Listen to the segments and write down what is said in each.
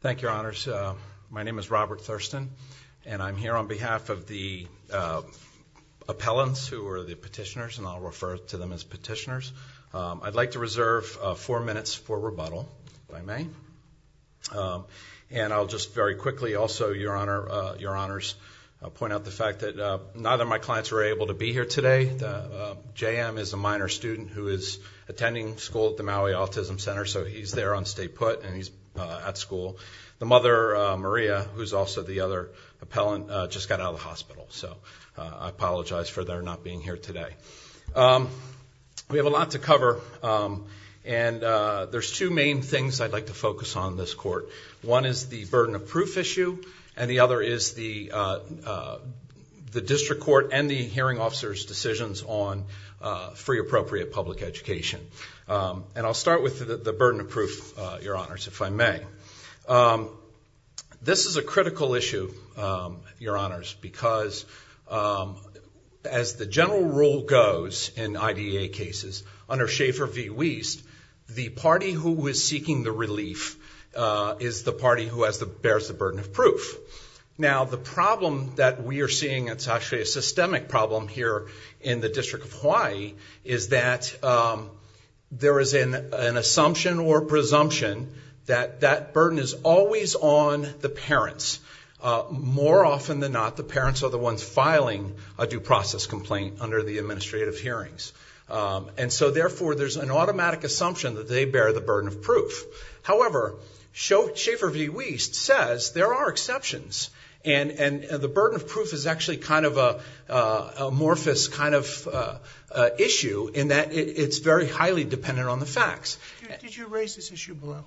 Thank you, Your Honors. My name is Robert Thurston, and I'm here on behalf of the appellants who are the petitioners, and I'll refer to them as petitioners. I'd like to reserve four minutes for rebuttal, if I may. And I'll just very quickly also, Your Honors, point out the fact that neither of my clients were able to be here today. J. M. is a minor student who is attending school at the Maui Autism Center, so he's there on stay put, and he's at school. The mother, Maria, who's also the other appellant, just got out of the hospital, so I apologize for their not being here today. We have a lot to cover, and there's two main things I'd like to focus on in this court. One is the burden of proof issue, and the other is the district court and the hearing officer's decisions on free appropriate public education. And I'll start with the burden of proof, Your Honors, if I may. This is a critical issue, Your Honors, because as the general rule goes in IDEA cases, under Schaefer v. Wiest, the party who was seeking the relief is the party who bears the burden of proof. Now, the problem that we are seeing, it's actually a systemic problem here in the District of Hawaii, is that there is an assumption or presumption that that burden is always on the parents. More often than not, the parents are the ones filing a due process complaint under the administrative hearings. And so therefore, there's an automatic assumption that they bear the burden of proof. However, Schaefer v. Wiest says there are exceptions, and the burden of proof is actually kind of a amorphous kind of issue in that it's very highly dependent on the facts. Did you raise this issue below?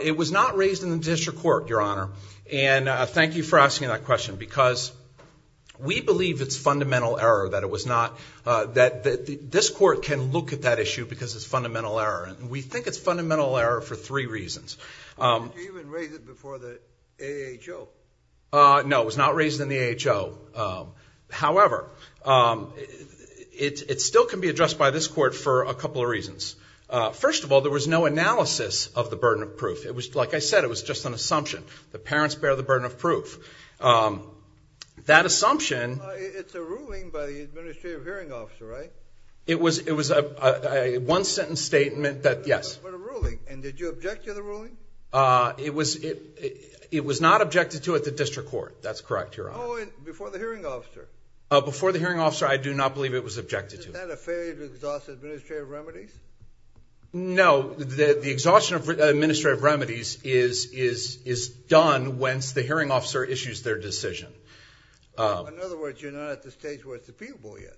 It was not raised in the district court, Your Honor. And thank you for asking that question, because we believe it's fundamental error that it was not, that this court can look at that issue, because it's fundamental error. And we think it's fundamental error for three reasons. Did you even raise it before the AHO? No, it was not raised in the AHO. However, it still can be addressed by this court for a couple of reasons. First of all, there was no analysis of the burden of proof. It was, like I said, it was just an assumption. The parents bear the burden of proof. That assumption... It's a ruling by the administrative hearing officer, right? It was a one-sentence statement that, yes. But a ruling. And did you object to the ruling? It was not objected to at the district court. That's correct, Your Honor. Oh, and before the hearing officer? Before the hearing officer, I do not believe it was objected to. Isn't that a failure to exhaust administrative remedies? No, the exhaustion of administrative remedies is done whence the hearing officer issues their decision. In other words, you're not at the stage where it's appealable yet.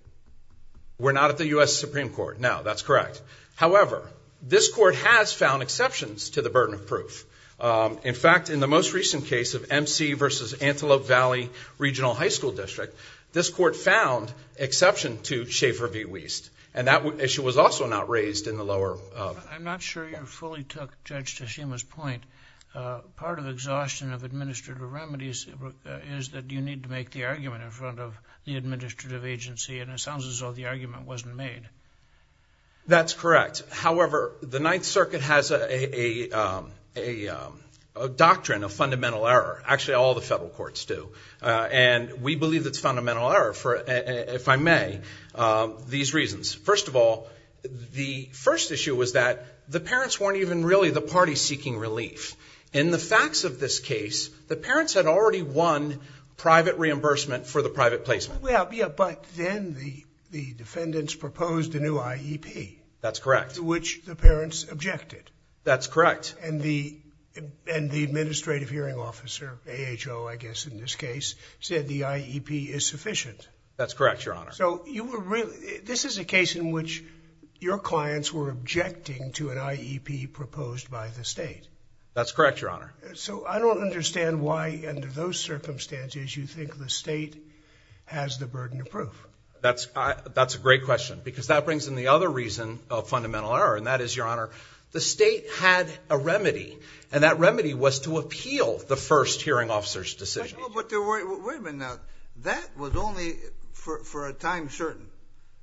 We're not at the U.S. Supreme Court. No, that's correct. However, this court has found exceptions to the burden of proof. In fact, in the most recent case of MC v. Antelope Valley Regional High School District, this court found exception to Schaefer v. Wiest. And that issue was also not raised in the lower... I'm not sure you fully took Judge Teshima's point. Part of exhaustion of administrative remedies is that you need to make the argument in front of the administrative agency and it sounds as though the argument wasn't made. That's correct. However, the Ninth Circuit has a doctrine of fundamental error. Actually, all the federal courts do. And we believe it's fundamental error for, if I may, these reasons. First of all, the first issue was that the parents weren't even really the party seeking relief. In the facts of this case, the parents had already won private reimbursement for the private placement. Yeah, but then the defendants proposed a new IEP. That's correct. To which the parents objected. That's correct. And the administrative hearing officer, AHO, I guess in this case, said the IEP is sufficient. That's correct, Your Honor. So this is a case in which your clients were objecting to an IEP proposed by the state. That's correct, Your Honor. So I don't understand why, under those circumstances, you think the state has the burden of proof. That's a great question because that brings in the other reason of fundamental error and that is, Your Honor, the state had a remedy and that remedy was to appeal the first hearing officer's decision. Wait a minute now. That was only for a time certain,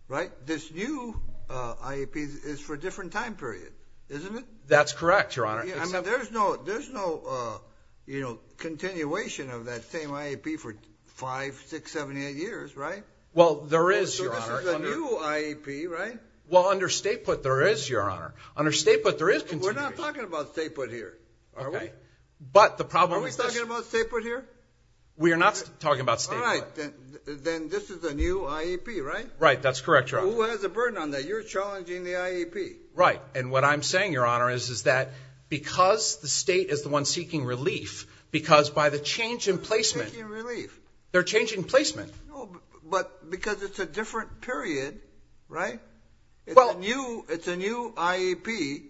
right? This new IEP is for a different time period, isn't it? That's correct, Your Honor. There's no continuation of that same IEP for 5, 6, 7, 8 years, right? Well, there is, Your Honor. So this is a new IEP, right? Well, under state put, there is, Your Honor. Under state put, there is continuation. We're not talking about state put here, are we? Okay, but the problem is... Are we talking about state put here? We are not talking about state put. All right, then this is a new IEP, right? Right, that's correct, Your Honor. Who has a burden on that? You're challenging the IEP. Right, and what I'm saying, Your Honor, is that because the state is the one seeking relief, because by the change in placement... They're seeking relief. They're changing placement. No, but because it's a different period, right? Well... It's a new IEP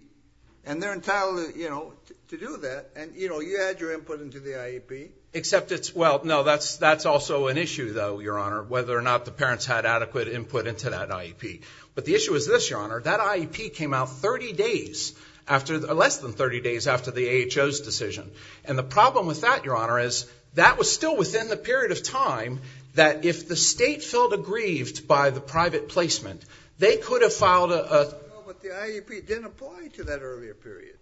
and they're entitled, you know, to do that and, you know, you add your input into the IEP. Except it's, well, no, that's also an issue, though, Your Honor, whether or not the parents had adequate input into that IEP. But the issue is this, Your Honor. That IEP came out 30 days after, less than 30 days after the AHO's decision. And the problem with that, Your Honor, is that was still within the period of time that if the state felt aggrieved by the private placement, they could have filed a... But the IEP didn't apply to that earlier period,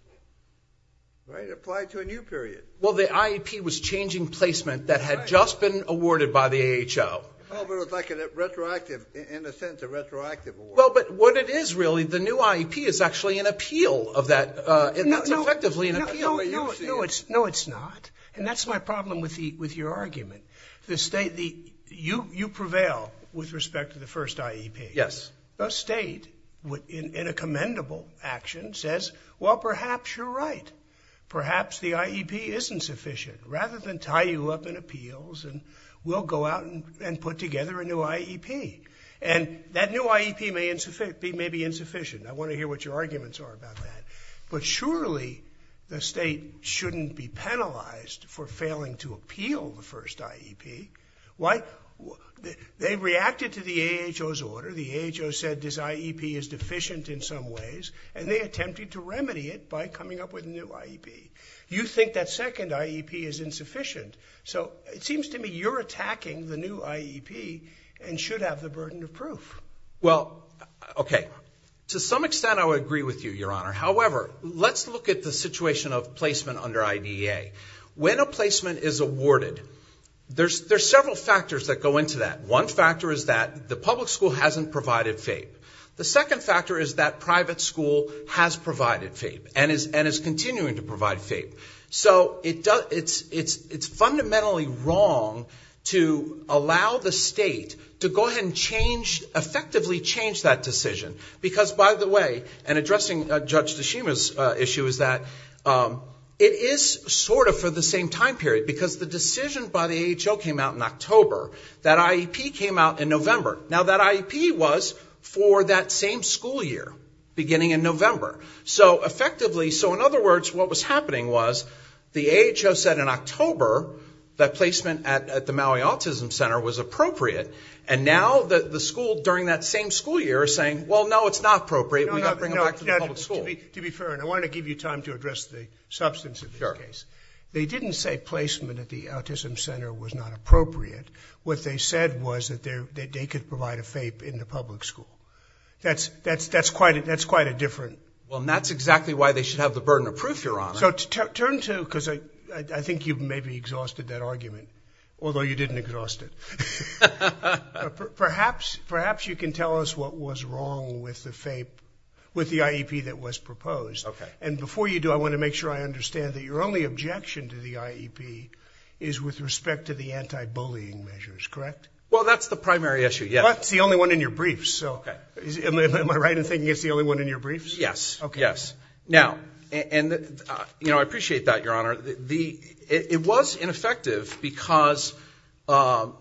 right? It applied to a new period. Well, the IEP was changing placement that had just been awarded by the AHO. Well, but it was like a retroactive, in a sense, a retroactive award. Well, but what it is, really, the new IEP is actually an appeal of that. It's effectively an appeal. No, it's not. And that's my problem with your argument. The state, you prevail with respect to the first IEP. Yes. The state, in a commendable action, says, well, perhaps you're right. Perhaps the IEP isn't sufficient. Rather than tie you up in appeals and we'll go out and put together a new IEP. And that new IEP may be insufficient. I want to hear what your arguments are about that. But surely the state shouldn't be penalized for failing to appeal the first IEP. Why? They reacted to the AHO's order. The AHO said this IEP is deficient in some ways. And they attempted to remedy it by coming up with a new IEP. You think that second IEP is insufficient. So it seems to me you're attacking the new IEP and should have the burden of proof. Well, okay. To some extent, I would agree with you, Your Honor. However, let's look at the situation of placement under IDEA. When a placement is awarded, there's several factors that go into that. One factor is that the public school hasn't provided FAPE. The second factor is that private school has provided FAPE. And is continuing to provide FAPE. So it's fundamentally wrong to allow the state to go ahead and effectively change that decision. Because, by the way, and addressing Judge Tashima's issue, is that it is sort of for the same time period. Because the decision by the AHO came out in October. That IEP came out in November. Now that IEP was for that same school year, beginning in November. So effectively, so in other words, what was happening was, the AHO said in October that placement at the Maui Autism Center was appropriate. And now the school, during that same school year, is saying, well, no, it's not appropriate. We've got to bring them back to the public school. To be fair, and I want to give you time to address the substance of this case. They didn't say placement at the Autism Center was not appropriate. What they said was that they could provide a FAPE in the public school. That's quite a different... Well, and that's exactly why they should have the burden of proof, Your Honor. So turn to, because I think you've maybe exhausted that argument. Although you didn't exhaust it. Perhaps you can tell us what was wrong with the FAPE, with the IEP that was proposed. And before you do, I want to make sure I understand that your only objection to the IEP is with respect to the anti-bullying measures, correct? Well, that's the primary issue, yes. It's the only one in your briefs. Am I right in thinking it's the only one in your briefs? Yes, yes. Now, and I appreciate that, Your Honor. It was ineffective because the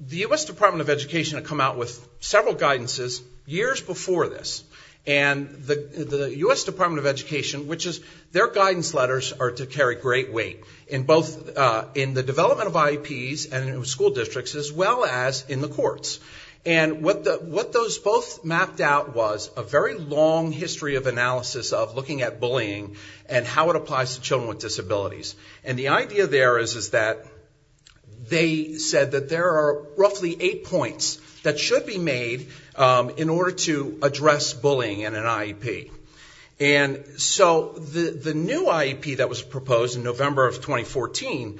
U.S. Department of Education had come out with several guidances years before this. And the U.S. Department of Education, which is, their guidance letters are to carry great weight in both in the development of IEPs and in school districts, as well as in the courts. And what those both mapped out was a very long history of analysis of looking at bullying and how it applies to children with disabilities. And the idea there is that they said that there are roughly eight points that should be made in order to address bullying in an IEP. And so the new IEP that was proposed in November of 2014,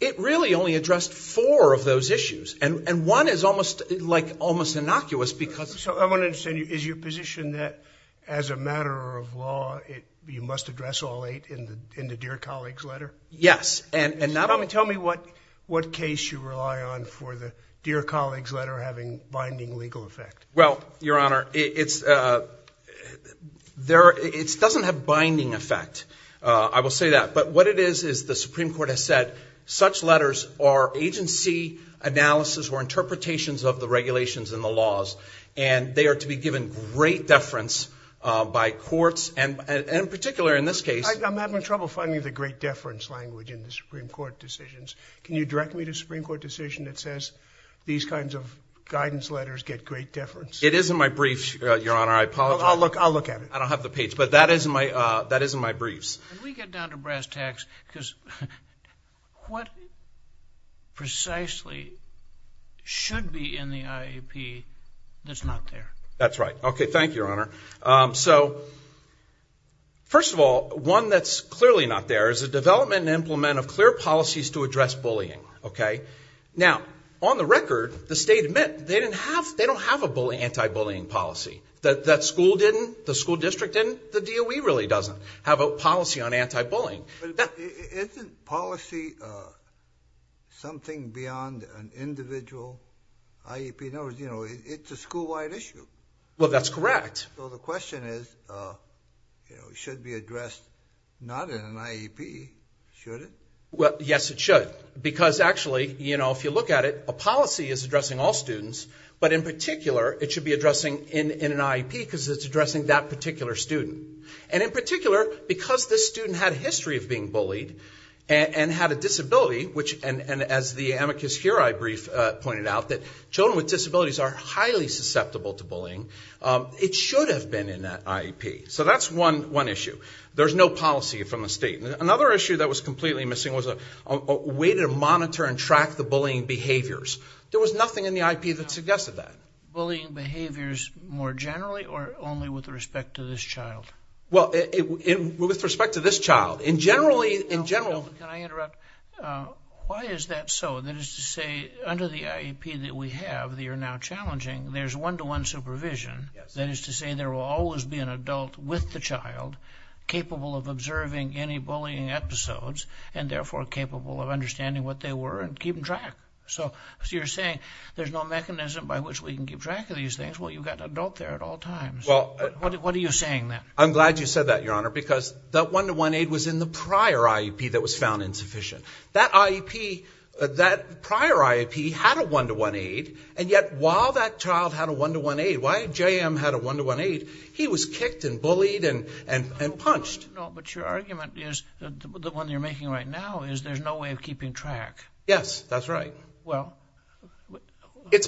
it really only addressed four of those issues. And one is almost innocuous because... So I want to understand, is your position that as a matter of law, you must address all eight in the Dear Colleagues letter? Yes. Tell me what case you rely on for the Dear Colleagues letter having binding legal effect. Well, Your Honor, it doesn't have binding effect. I will say that. But what it is, is the Supreme Court has said such letters are agency analysis or interpretations of the regulations and the laws. And they are to be given great deference by courts, and in particular in this case... I'm having trouble finding the great deference language in the Supreme Court decisions. Can you direct me to a Supreme Court decision that says these kinds of guidance letters get great deference? It is in my brief, Your Honor. I apologize. I'll look at it. I don't have the page. But that is in my briefs. Can we get down to brass tacks? Because what precisely should be in the IAP that's not there? That's right. Okay. Thank you, Your Honor. So, first of all, one that's clearly not there is the development and implement of clear policies to address bullying, okay? Now, on the record, the state admit they don't have an anti-bullying policy. That school didn't? The school district didn't? The DOE really doesn't have a policy on anti-bullying. But isn't policy something beyond an individual IEP? In other words, you know, it's a school-wide issue. Well, that's correct. So the question is, you know, it should be addressed not in an IEP, should it? Well, yes, it should. Because, actually, you know, if you look at it, a policy is addressing all students, but in particular, it should be addressing in an IEP because it's addressing that particular student. And in particular, because this student had a history of being bullied and had a disability, and as the amicus curiae brief pointed out, that children with disabilities are highly susceptible to bullying, it should have been in that IEP. So that's one issue. There's no policy from the state. Another issue that was completely missing was a way to monitor and track the bullying behaviors. There was nothing in the IEP that suggested that. Bullying behaviors more generally or only with respect to this child? Well, with respect to this child. In general, in general. Can I interrupt? Why is that so? That is to say, under the IEP that we have that you're now challenging, there's one-to-one supervision. That is to say there will always be an adult with the child capable of observing any bullying episodes and therefore capable of understanding what they were and keeping track. So you're saying there's no mechanism by which we can keep track of these things. Well, you've got an adult there at all times. What are you saying then? I'm glad you said that, Your Honor, because that one-to-one aid was in the prior IEP that was found insufficient. That IEP, that prior IEP had a one-to-one aid, and yet while that child had a one-to-one aid, while JM had a one-to-one aid, he was kicked and bullied and punched. No, but your argument is, the one you're making right now, is there's no way of keeping track. Yes, that's right. Well,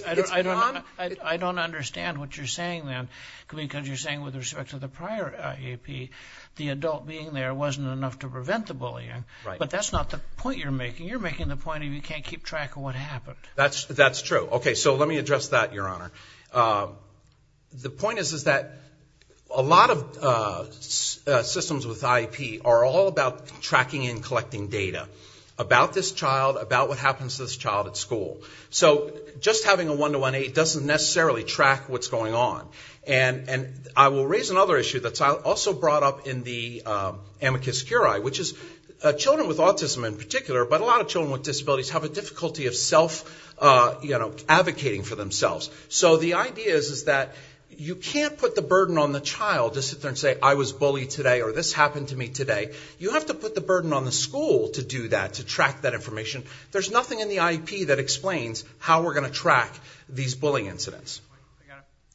I don't understand what you're saying then. Because you're saying with respect to the prior IEP, the adult being there wasn't enough to prevent the bullying. Right. But that's not the point you're making. You're making the point of you can't keep track of what happened. That's true. Okay, so let me address that, Your Honor. The point is that a lot of systems with IEP are all about tracking and collecting data about this child, about what happens to this child at school. So just having a one-to-one aid doesn't necessarily track what's going on. And I will raise another issue that's also brought up in the amicus curiae, which is children with autism in particular, but a lot of children with disabilities, have a difficulty of self-advocating for themselves. So the idea is that you can't put the burden on the child to sit there and say, I was bullied today or this happened to me today. You have to put the burden on the school to do that, to track that information. There's nothing in the IEP that explains how we're going to track these bullying incidents.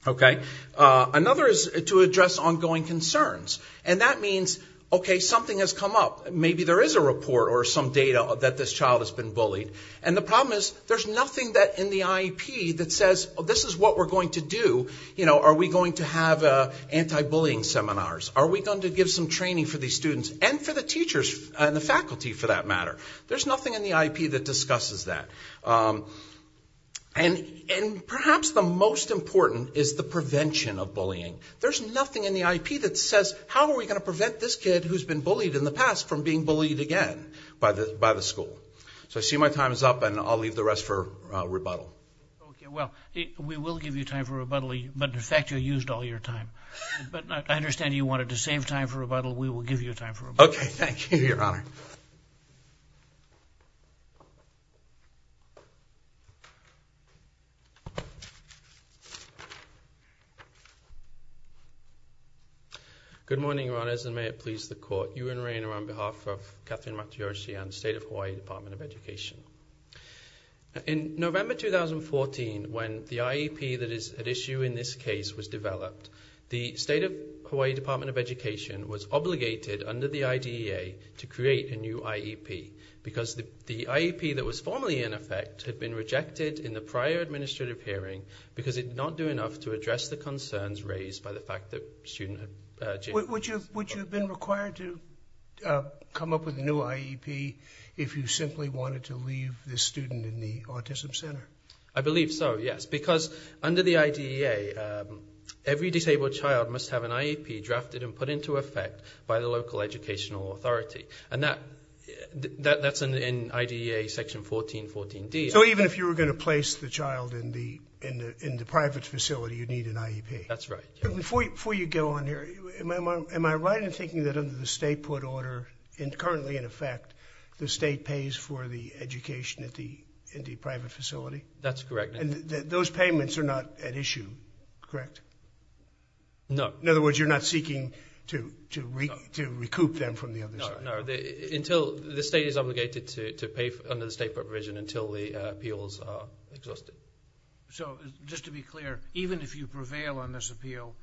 Okay. Another is to address ongoing concerns. And that means, okay, something has come up. Maybe there is a report or some data that this child has been bullied. And the problem is there's nothing in the IEP that says this is what we're going to do. Are we going to have anti-bullying seminars? Are we going to give some training for these students and for the teachers and the faculty, for that matter? There's nothing in the IEP that discusses that. And perhaps the most important is the prevention of bullying. There's nothing in the IEP that says, how are we going to prevent this kid who's been bullied in the past from being bullied again by the school? So I see my time is up, and I'll leave the rest for rebuttal. Okay. Well, we will give you time for rebuttal, but in fact you used all your time. But I understand you wanted to save time for rebuttal. We will give you time for rebuttal. Okay. Thank you, Your Honor. Good morning, Your Honors, and may it please the Court. Ewan Rayner on behalf of Katherine Matayoshi on the State of Hawaii Department of Education. In November 2014, when the IEP that is at issue in this case was developed, the State of Hawaii Department of Education was obligated under the IDEA to create a new IEP, because the IEP that was formally in effect had been rejected in the prior administrative hearing because it did not do enough to address the concerns raised by the fact that students had been bullied. Would you have been required to come up with a new IEP if you simply wanted to leave this student in the Autism Center? I believe so, yes, because under the IDEA, every disabled child must have an IEP drafted and put into effect by the local educational authority. And that's in IDEA Section 1414D. So even if you were going to place the child in the private facility, you'd need an IEP? That's right. Before you go on here, am I right in thinking that under the State Port Order, currently in effect, the State pays for the education in the private facility? That's correct. And those payments are not at issue, correct? No. In other words, you're not seeking to recoup them from the other side? No, no. The State is obligated to pay under the State Port Provision until the appeals are exhausted. So just to be clear, even if you prevail on this appeal,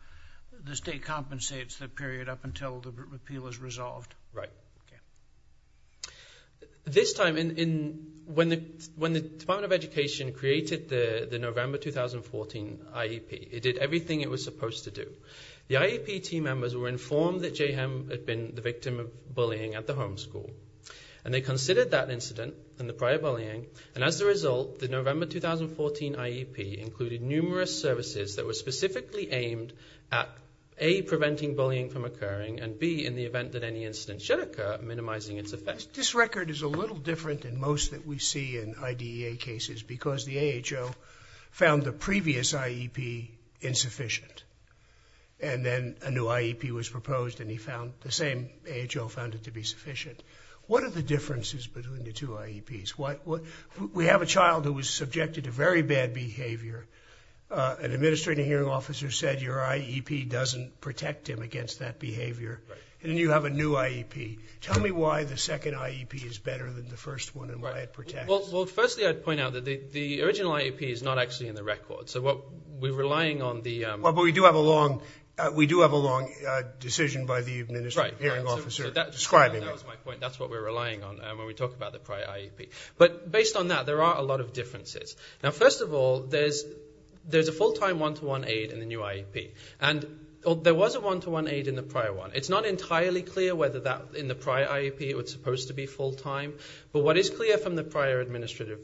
the State compensates the period up until the repeal is resolved? Right. Okay. This time, when the Department of Education created the November 2014 IEP, it did everything it was supposed to do. The IEP team members were informed that Jayhem had been the victim of bullying at the home school, and they considered that incident and the prior bullying, and as a result, the November 2014 IEP included numerous services that were specifically aimed at, A, preventing bullying from occurring, and B, in the event that any incident should occur, minimizing its effect. This record is a little different than most that we see in IDEA cases because the AHO found the previous IEP insufficient, and then a new IEP was proposed and the same AHO found it to be sufficient. What are the differences between the two IEPs? We have a child who was subjected to very bad behavior. An administrative hearing officer said your IEP doesn't protect him against that behavior. Right. And then you have a new IEP. Tell me why the second IEP is better than the first one and why it protects. Well, firstly, I'd point out that the original IEP is not actually in the record. So we're relying on the But we do have a long decision by the administrative hearing officer describing it. That was my point. That's what we're relying on when we talk about the prior IEP. But based on that, there are a lot of differences. First of all, there's a full-time one-to-one aid in the new IEP. There was a one-to-one aid in the prior one. It's not entirely clear whether in the prior IEP it was supposed to be full-time. But what is clear from the prior administrative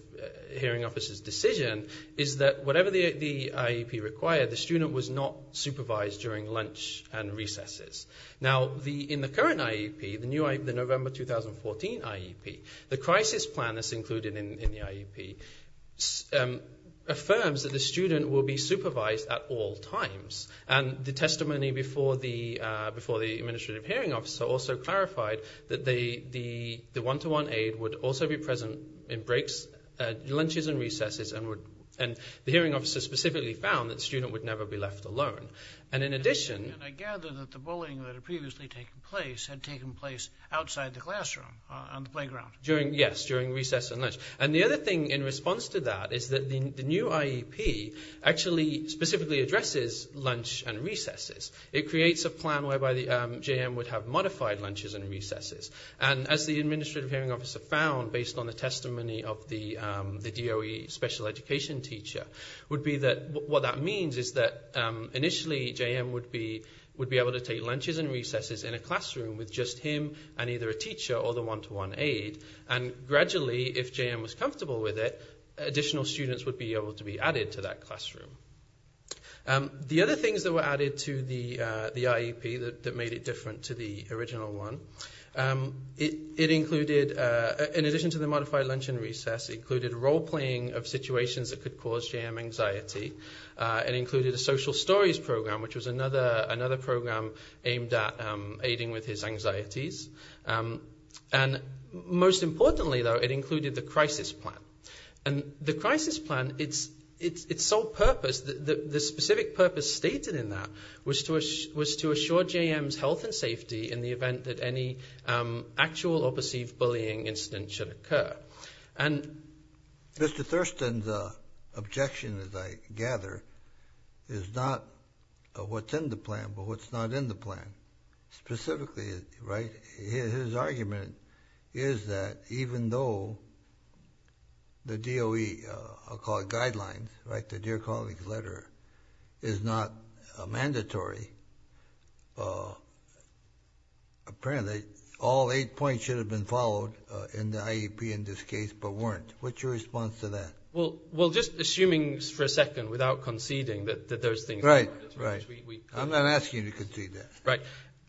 hearing officer's decision is that whatever the IEP required, the student was not supervised during lunch and recesses. Now, in the current IEP, the November 2014 IEP, the crisis plan that's included in the IEP affirms that the student will be supervised at all times. And the testimony before the administrative hearing officer also clarified that the one-to-one aid would also be present in lunches and recesses. And the hearing officer specifically found that the student would never be left alone. And in addition... And I gather that the bullying that had previously taken place had taken place outside the classroom, on the playground. Yes, during recess and lunch. And the other thing in response to that is that the new IEP actually specifically addresses lunch and recesses. It creates a plan whereby the JM would have modified lunches and recesses. And as the administrative hearing officer found, based on the testimony of the DOE special education teacher, what that means is that initially JM would be able to take lunches and recesses in a classroom with just him and either a teacher or the one-to-one aid. And gradually, if JM was comfortable with it, additional students would be able to be added to that classroom. The other things that were added to the IEP that made it different to the original one, it included, in addition to the modified lunch and recess, it included role-playing of situations that could cause JM anxiety. It included a social stories program, which was another program aimed at aiding with his anxieties. And most importantly, though, it included the crisis plan. And the crisis plan, its sole purpose, the specific purpose stated in that was to assure JM's health and safety in the event that any actual or perceived bullying incident should occur. And Mr. Thurston's objection, as I gather, is not what's in the plan, but what's not in the plan. Specifically, his argument is that even though the DOE guidelines, the Dear Colleagues letter, is not mandatory, apparently all eight points should have been followed in the IEP in this case, but weren't. What's your response to that? Well, just assuming for a second, without conceding, that those things are mandatory. Right, right. I'm not asking you to concede that. Right.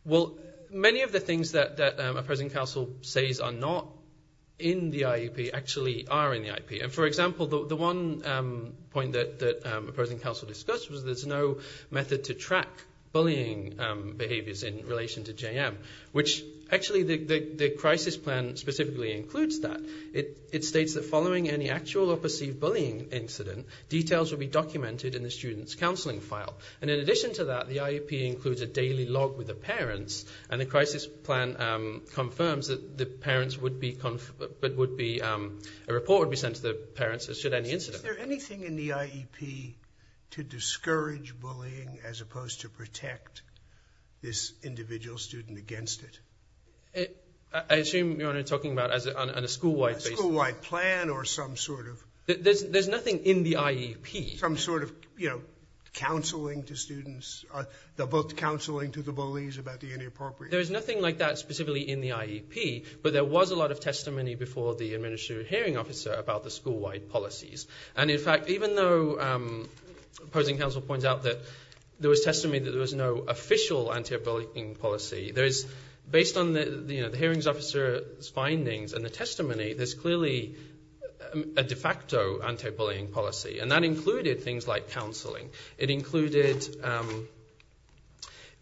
Well, many of the things that a present counsel says are not in the IEP actually are in the IEP. And, for example, the one point that a present counsel discussed was there's no method to track bullying behaviors in relation to JM, which actually the crisis plan specifically includes that. It states that following any actual or perceived bullying incident, details will be documented in the student's counseling file. And in addition to that, the IEP includes a daily log with the parents, and the crisis plan confirms that the parents would be – a report would be sent to the parents should any incident occur. Is there anything in the IEP to discourage bullying as opposed to protect this individual student against it? I assume you're talking about on a school-wide basis. A school-wide plan or some sort of – There's nothing in the IEP. Some sort of, you know, counseling to students, counseling to the bullies about the inappropriate – There's nothing like that specifically in the IEP, but there was a lot of testimony before the administrative hearing officer about the school-wide policies. And in fact, even though opposing counsel points out that there was testimony that there was no official anti-bullying policy, based on the hearings officer's findings and the testimony, there's clearly a de facto anti-bullying policy, and that included things like counseling. It included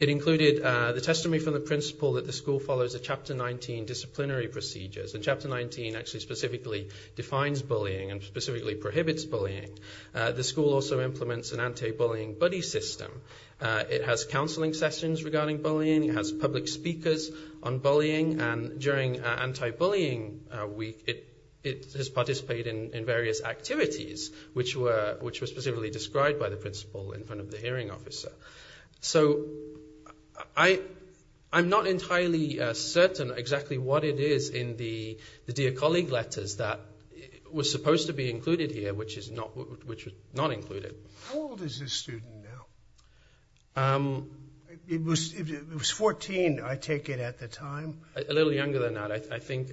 the testimony from the principal that the school follows the Chapter 19 disciplinary procedures. And Chapter 19 actually specifically defines bullying and specifically prohibits bullying. The school also implements an anti-bullying buddy system. It has counseling sessions regarding bullying. It has public speakers on bullying. And during anti-bullying week, it has participated in various activities which were specifically described by the principal in front of the hearing officer. So I'm not entirely certain exactly what it is in the dear colleague letters that was supposed to be included here, which was not included. How old is this student now? It was 14, I take it, at the time? A little younger than that. I think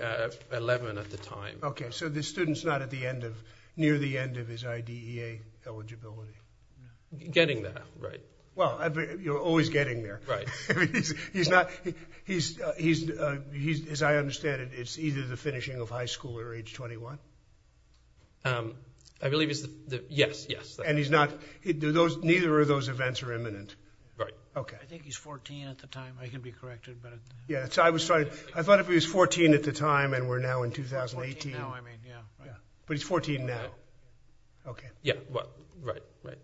11 at the time. Okay, so this student's not at the end of – near the end of his IDEA eligibility. Getting there, right. Well, you're always getting there. Right. He's not – as I understand it, it's either the finishing of high school or age 21? I believe it's the – yes, yes. And he's not – neither of those events are imminent? Right. Okay. I think he's 14 at the time. I can be corrected. Yeah, so I thought it was 14 at the time, and we're now in 2018. 14 now, I mean, yeah. But he's 14 now. Okay. Yeah, right, right.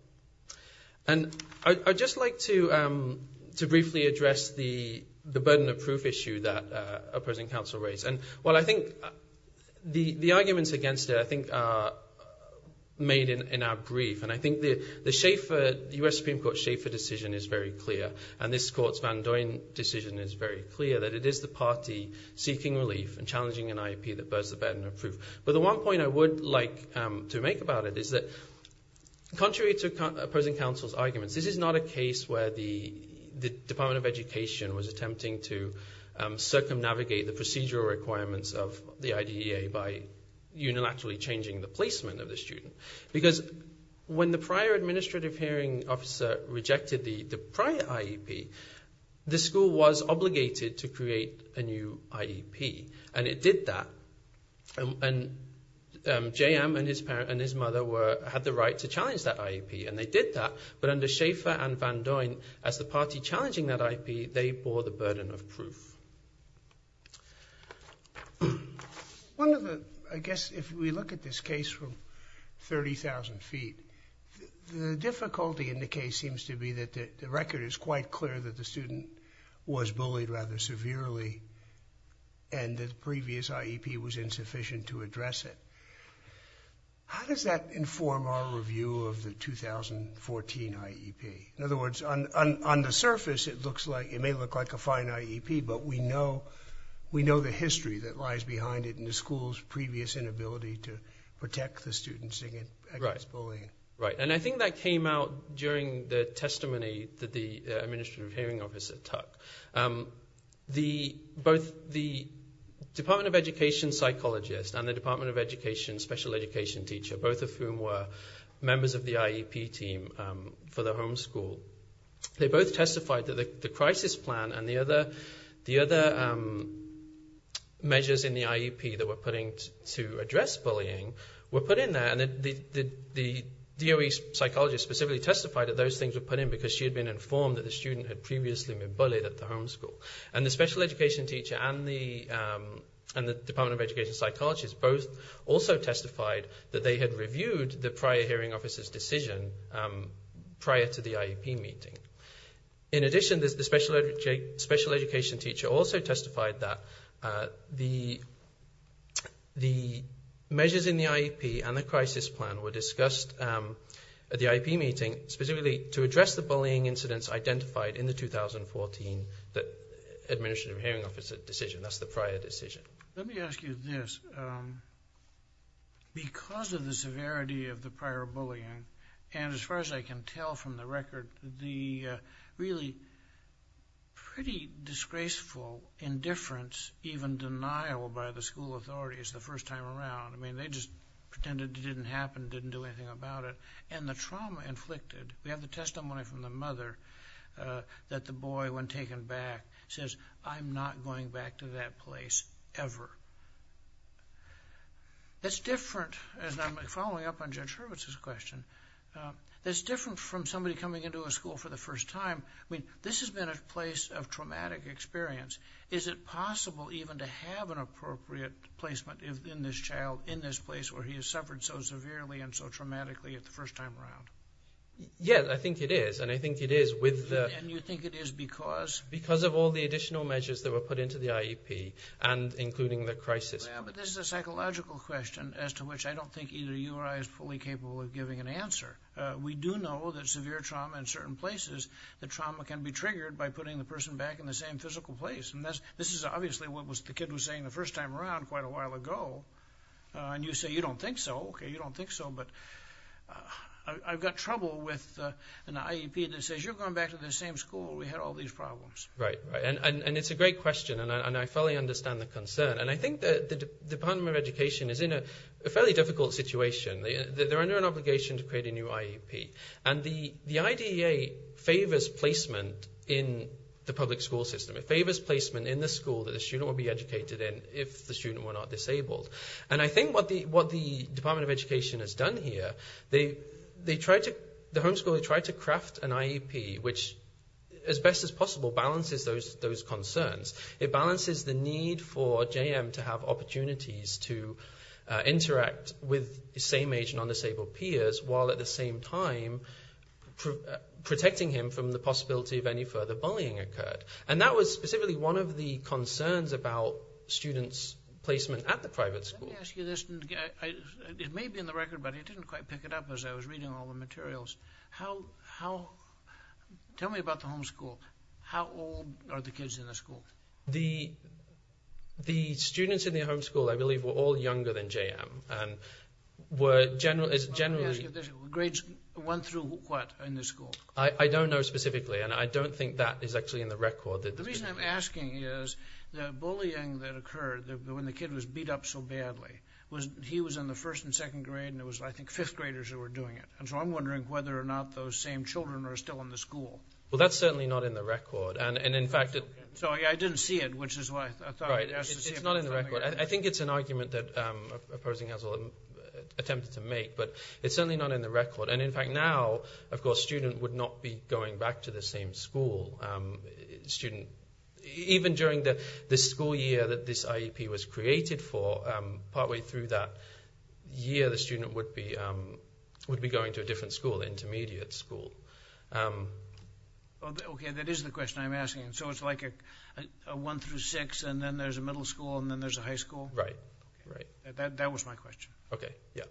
I'd just like to briefly address the burden of proof issue that opposing counsel raised. Well, I think the arguments against it I think are made in our brief, and I think the U.S. Supreme Court Schaffer decision is very clear, and this court's Van Doyen decision is very clear, that it is the party seeking relief and challenging an IEP that bears the burden of proof. But the one point I would like to make about it is that contrary to opposing counsel's arguments, this is not a case where the Department of Education was attempting to circumnavigate the procedural requirements of the IDEA by unilaterally changing the placement of the student. Because when the prior administrative hearing officer rejected the prior IEP, the school was obligated to create a new IEP, and it did that. And J.M. and his mother had the right to challenge that IEP, and they did that. But under Schaffer and Van Doyen, as the party challenging that IEP, they bore the burden of proof. I guess if we look at this case from 30,000 feet, the difficulty in the case seems to be that the record is quite clear that the student was bullied rather severely, and that the previous IEP was insufficient to address it. How does that inform our review of the 2014 IEP? In other words, on the surface, it may look like a fine IEP, but we know the history that lies behind it and the school's previous inability to protect the students against bullying. Right, and I think that came out during the testimony that the administrative hearing officer took. Both the Department of Education psychologist and the Department of Education special education teacher, both of whom were members of the IEP team for the home school, they both testified that the crisis plan and the other measures in the IEP that were put in to address bullying were put in there. And the DOE psychologist specifically testified that those things were put in because she had been informed that the student had previously been bullied at the home school. And the special education teacher and the Department of Education psychologist both also testified that they had reviewed the prior hearing officer's decision prior to the IEP meeting. In addition, the special education teacher also testified that the measures in the IEP and the crisis plan were discussed at the IEP meeting specifically to address the bullying incidents identified in the 2014 administrative hearing officer decision. That's the prior decision. Let me ask you this. Because of the severity of the prior bullying, and as far as I can tell from the record, the really pretty disgraceful indifference, even denial by the school authorities the first time around, I mean, they just pretended it didn't happen, didn't do anything about it, and the trauma inflicted. We have the testimony from the mother that the boy, when taken back, says, I'm not going back to that place ever. That's different, and I'm following up on Judge Hurwitz's question, that's different from somebody coming into a school for the first time. I mean, this has been a place of traumatic experience. Is it possible even to have an appropriate placement in this child, in this place where he has suffered so severely and so traumatically the first time around? Yes, I think it is, and I think it is with the... And you think it is because? Because of all the additional measures that were put into the IEP, and including the crisis. But this is a psychological question as to which I don't think either you or I is fully capable of giving an answer. We do know that severe trauma in certain places, the trauma can be triggered by putting the person back in the same physical place. And this is obviously what the kid was saying the first time around quite a while ago. And you say you don't think so. Okay, you don't think so, but I've got trouble with an IEP that says, you're going back to the same school where we had all these problems. Right, and it's a great question, and I fully understand the concern. And I think the Department of Education is in a fairly difficult situation. They're under an obligation to create a new IEP. And the IDEA favors placement in the public school system. It favors placement in the school that the student will be educated in if the student were not disabled. And I think what the Department of Education has done here, they tried to craft an IEP which, as best as possible, balances those concerns. It balances the need for JM to have opportunities to interact with the same age and undisabled peers while at the same time protecting him from the possibility of any further bullying occurred. And that was specifically one of the concerns about students' placement at the private school. Let me ask you this. It may be in the record, but I didn't quite pick it up as I was reading all the materials. Tell me about the homeschool. How old are the kids in the school? The students in the homeschool, I believe, were all younger than JM. Let me ask you this. Grades went through what in the school? I don't know specifically, and I don't think that is actually in the record. The reason I'm asking is the bullying that occurred when the kid was beat up so badly, he was in the first and second grade, and it was, I think, fifth graders who were doing it. And so I'm wondering whether or not those same children are still in the school. Well, that's certainly not in the record. So I didn't see it, which is why I thought I'd ask to see it. It's not in the record. I think it's an argument that opposing counsel attempted to make, but it's certainly not in the record. And, in fact, now, of course, students would not be going back to the same school. Even during the school year that this IEP was created for, partway through that year, the student would be going to a different school, an intermediate school. Okay, that is the question I'm asking. So it's like a one through six, and then there's a middle school, and then there's a high school? Right, right. That was my question. Okay, yeah.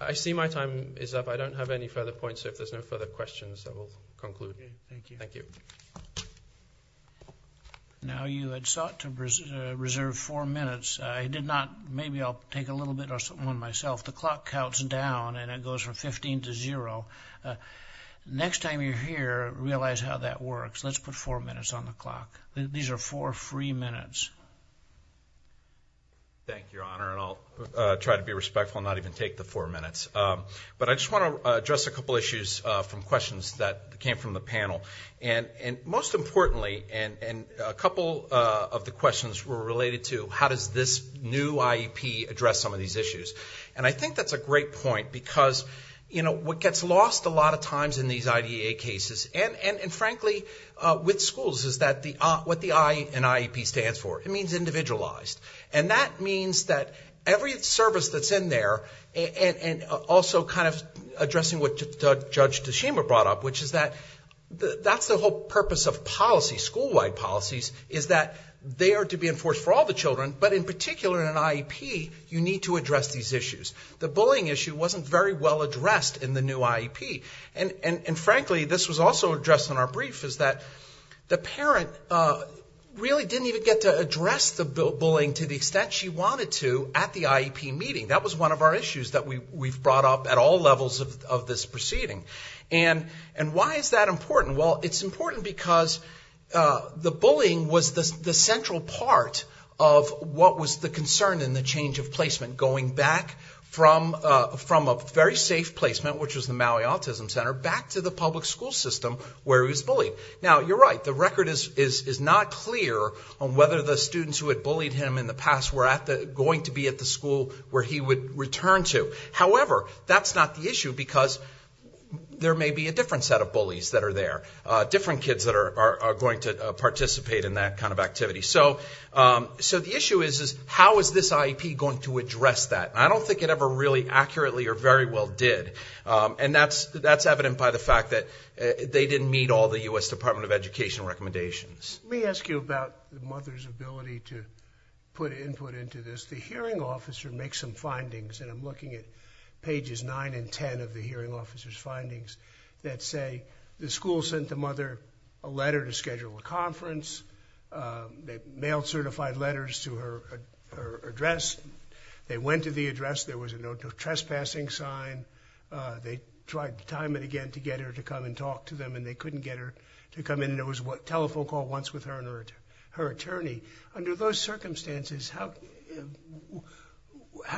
I see my time is up. I don't have any further points. So if there's no further questions, I will conclude. Okay, thank you. Thank you. Now you had sought to reserve four minutes. I did not. Maybe I'll take a little bit on myself. The clock counts down, and it goes from 15 to zero. Next time you're here, realize how that works. Let's put four minutes on the clock. These are four free minutes. Thank you, Your Honor, and I'll try to be respectful and not even take the four minutes. But I just want to address a couple issues from questions that came from the panel. And most importantly, and a couple of the questions were related to how does this new IEP address some of these issues. And I think that's a great point because, you know, what gets lost a lot of times in these IDA cases, and frankly with schools, is what the I in IEP stands for. It means individualized. And that means that every service that's in there, and also kind of addressing what Judge Tashima brought up, which is that that's the whole purpose of policy, school-wide policies, is that they are to be enforced for all the children, but in particular in an IEP, you need to address these issues. The bullying issue wasn't very well addressed in the new IEP. And frankly, this was also addressed in our brief, is that the parent really didn't even get to address the bullying to the extent she wanted to at the IEP meeting. That was one of our issues that we've brought up at all levels of this proceeding. And why is that important? Well, it's important because the bullying was the central part of what was the concern in the change of placement, going back from a very safe placement, which was the Maui Autism Center, back to the public school system where he was bullied. Now, you're right, the record is not clear on whether the students who had bullied him in the past were going to be at the school where he would return to. However, that's not the issue because there may be a different set of bullies that are there, different kids that are going to participate in that kind of activity. So the issue is how is this IEP going to address that? I don't think it ever really accurately or very well did. And that's evident by the fact that they didn't meet all the U.S. Department of Education recommendations. Let me ask you about the mother's ability to put input into this. The hearing officer makes some findings, and I'm looking at pages 9 and 10 of the hearing officer's findings, that say the school sent the mother a letter to schedule a conference. They mailed certified letters to her address. They went to the address. There was a no trespassing sign. They tried to time it again to get her to come and talk to them, and they couldn't get her to come in. There was a telephone call once with her and her attorney. Under those circumstances, how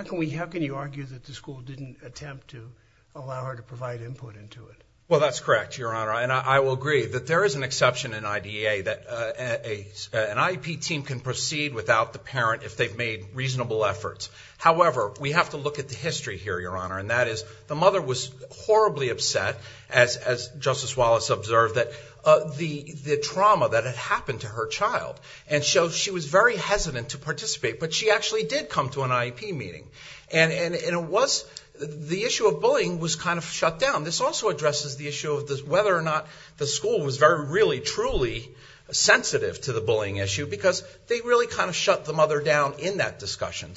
can you argue that the school didn't attempt to allow her to provide input into it? Well, that's correct, Your Honor, and I will agree that there is an exception in IDEA, that an IEP team can proceed without the parent if they've made reasonable efforts. However, we have to look at the history here, Your Honor, and that is the mother was horribly upset, as Justice Wallace observed, the trauma that had happened to her child, and so she was very hesitant to participate. But she actually did come to an IEP meeting, and the issue of bullying was kind of shut down. This also addresses the issue of whether or not the school was really truly sensitive to the bullying issue, because they really kind of shut the mother down in that discussion.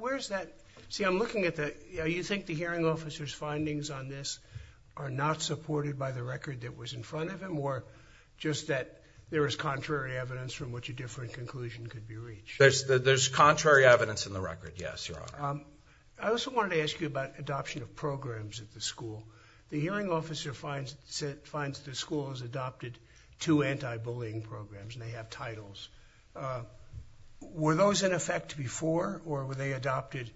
Where's that? See, I'm looking at that. You think the hearing officer's findings on this are not supported by the record that was in front of him, or just that there is contrary evidence from which a different conclusion could be reached? There's contrary evidence in the record, yes, Your Honor. I also wanted to ask you about adoption of programs at the school. The hearing officer finds the school has adopted two anti-bullying programs, and they have titles. Were those in effect before, or were they adopted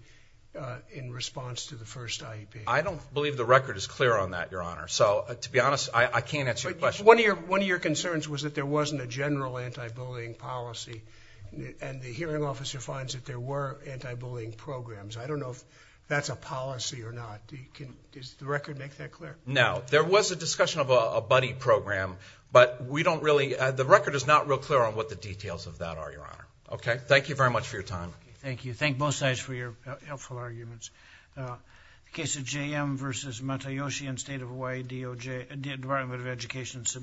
in response to the first IEP? I don't believe the record is clear on that, Your Honor. So, to be honest, I can't answer your question. One of your concerns was that there wasn't a general anti-bullying policy, and the hearing officer finds that there were anti-bullying programs. I don't know if that's a policy or not. Does the record make that clear? No. There was a discussion of a buddy program, but we don't really – the record is not real clear on what the details of that are, Your Honor. Okay, thank you very much for your time. Thank you. Thank both sides for your helpful arguments. In the case of JM v. Matayoshi and State of Hawaii Department of Education,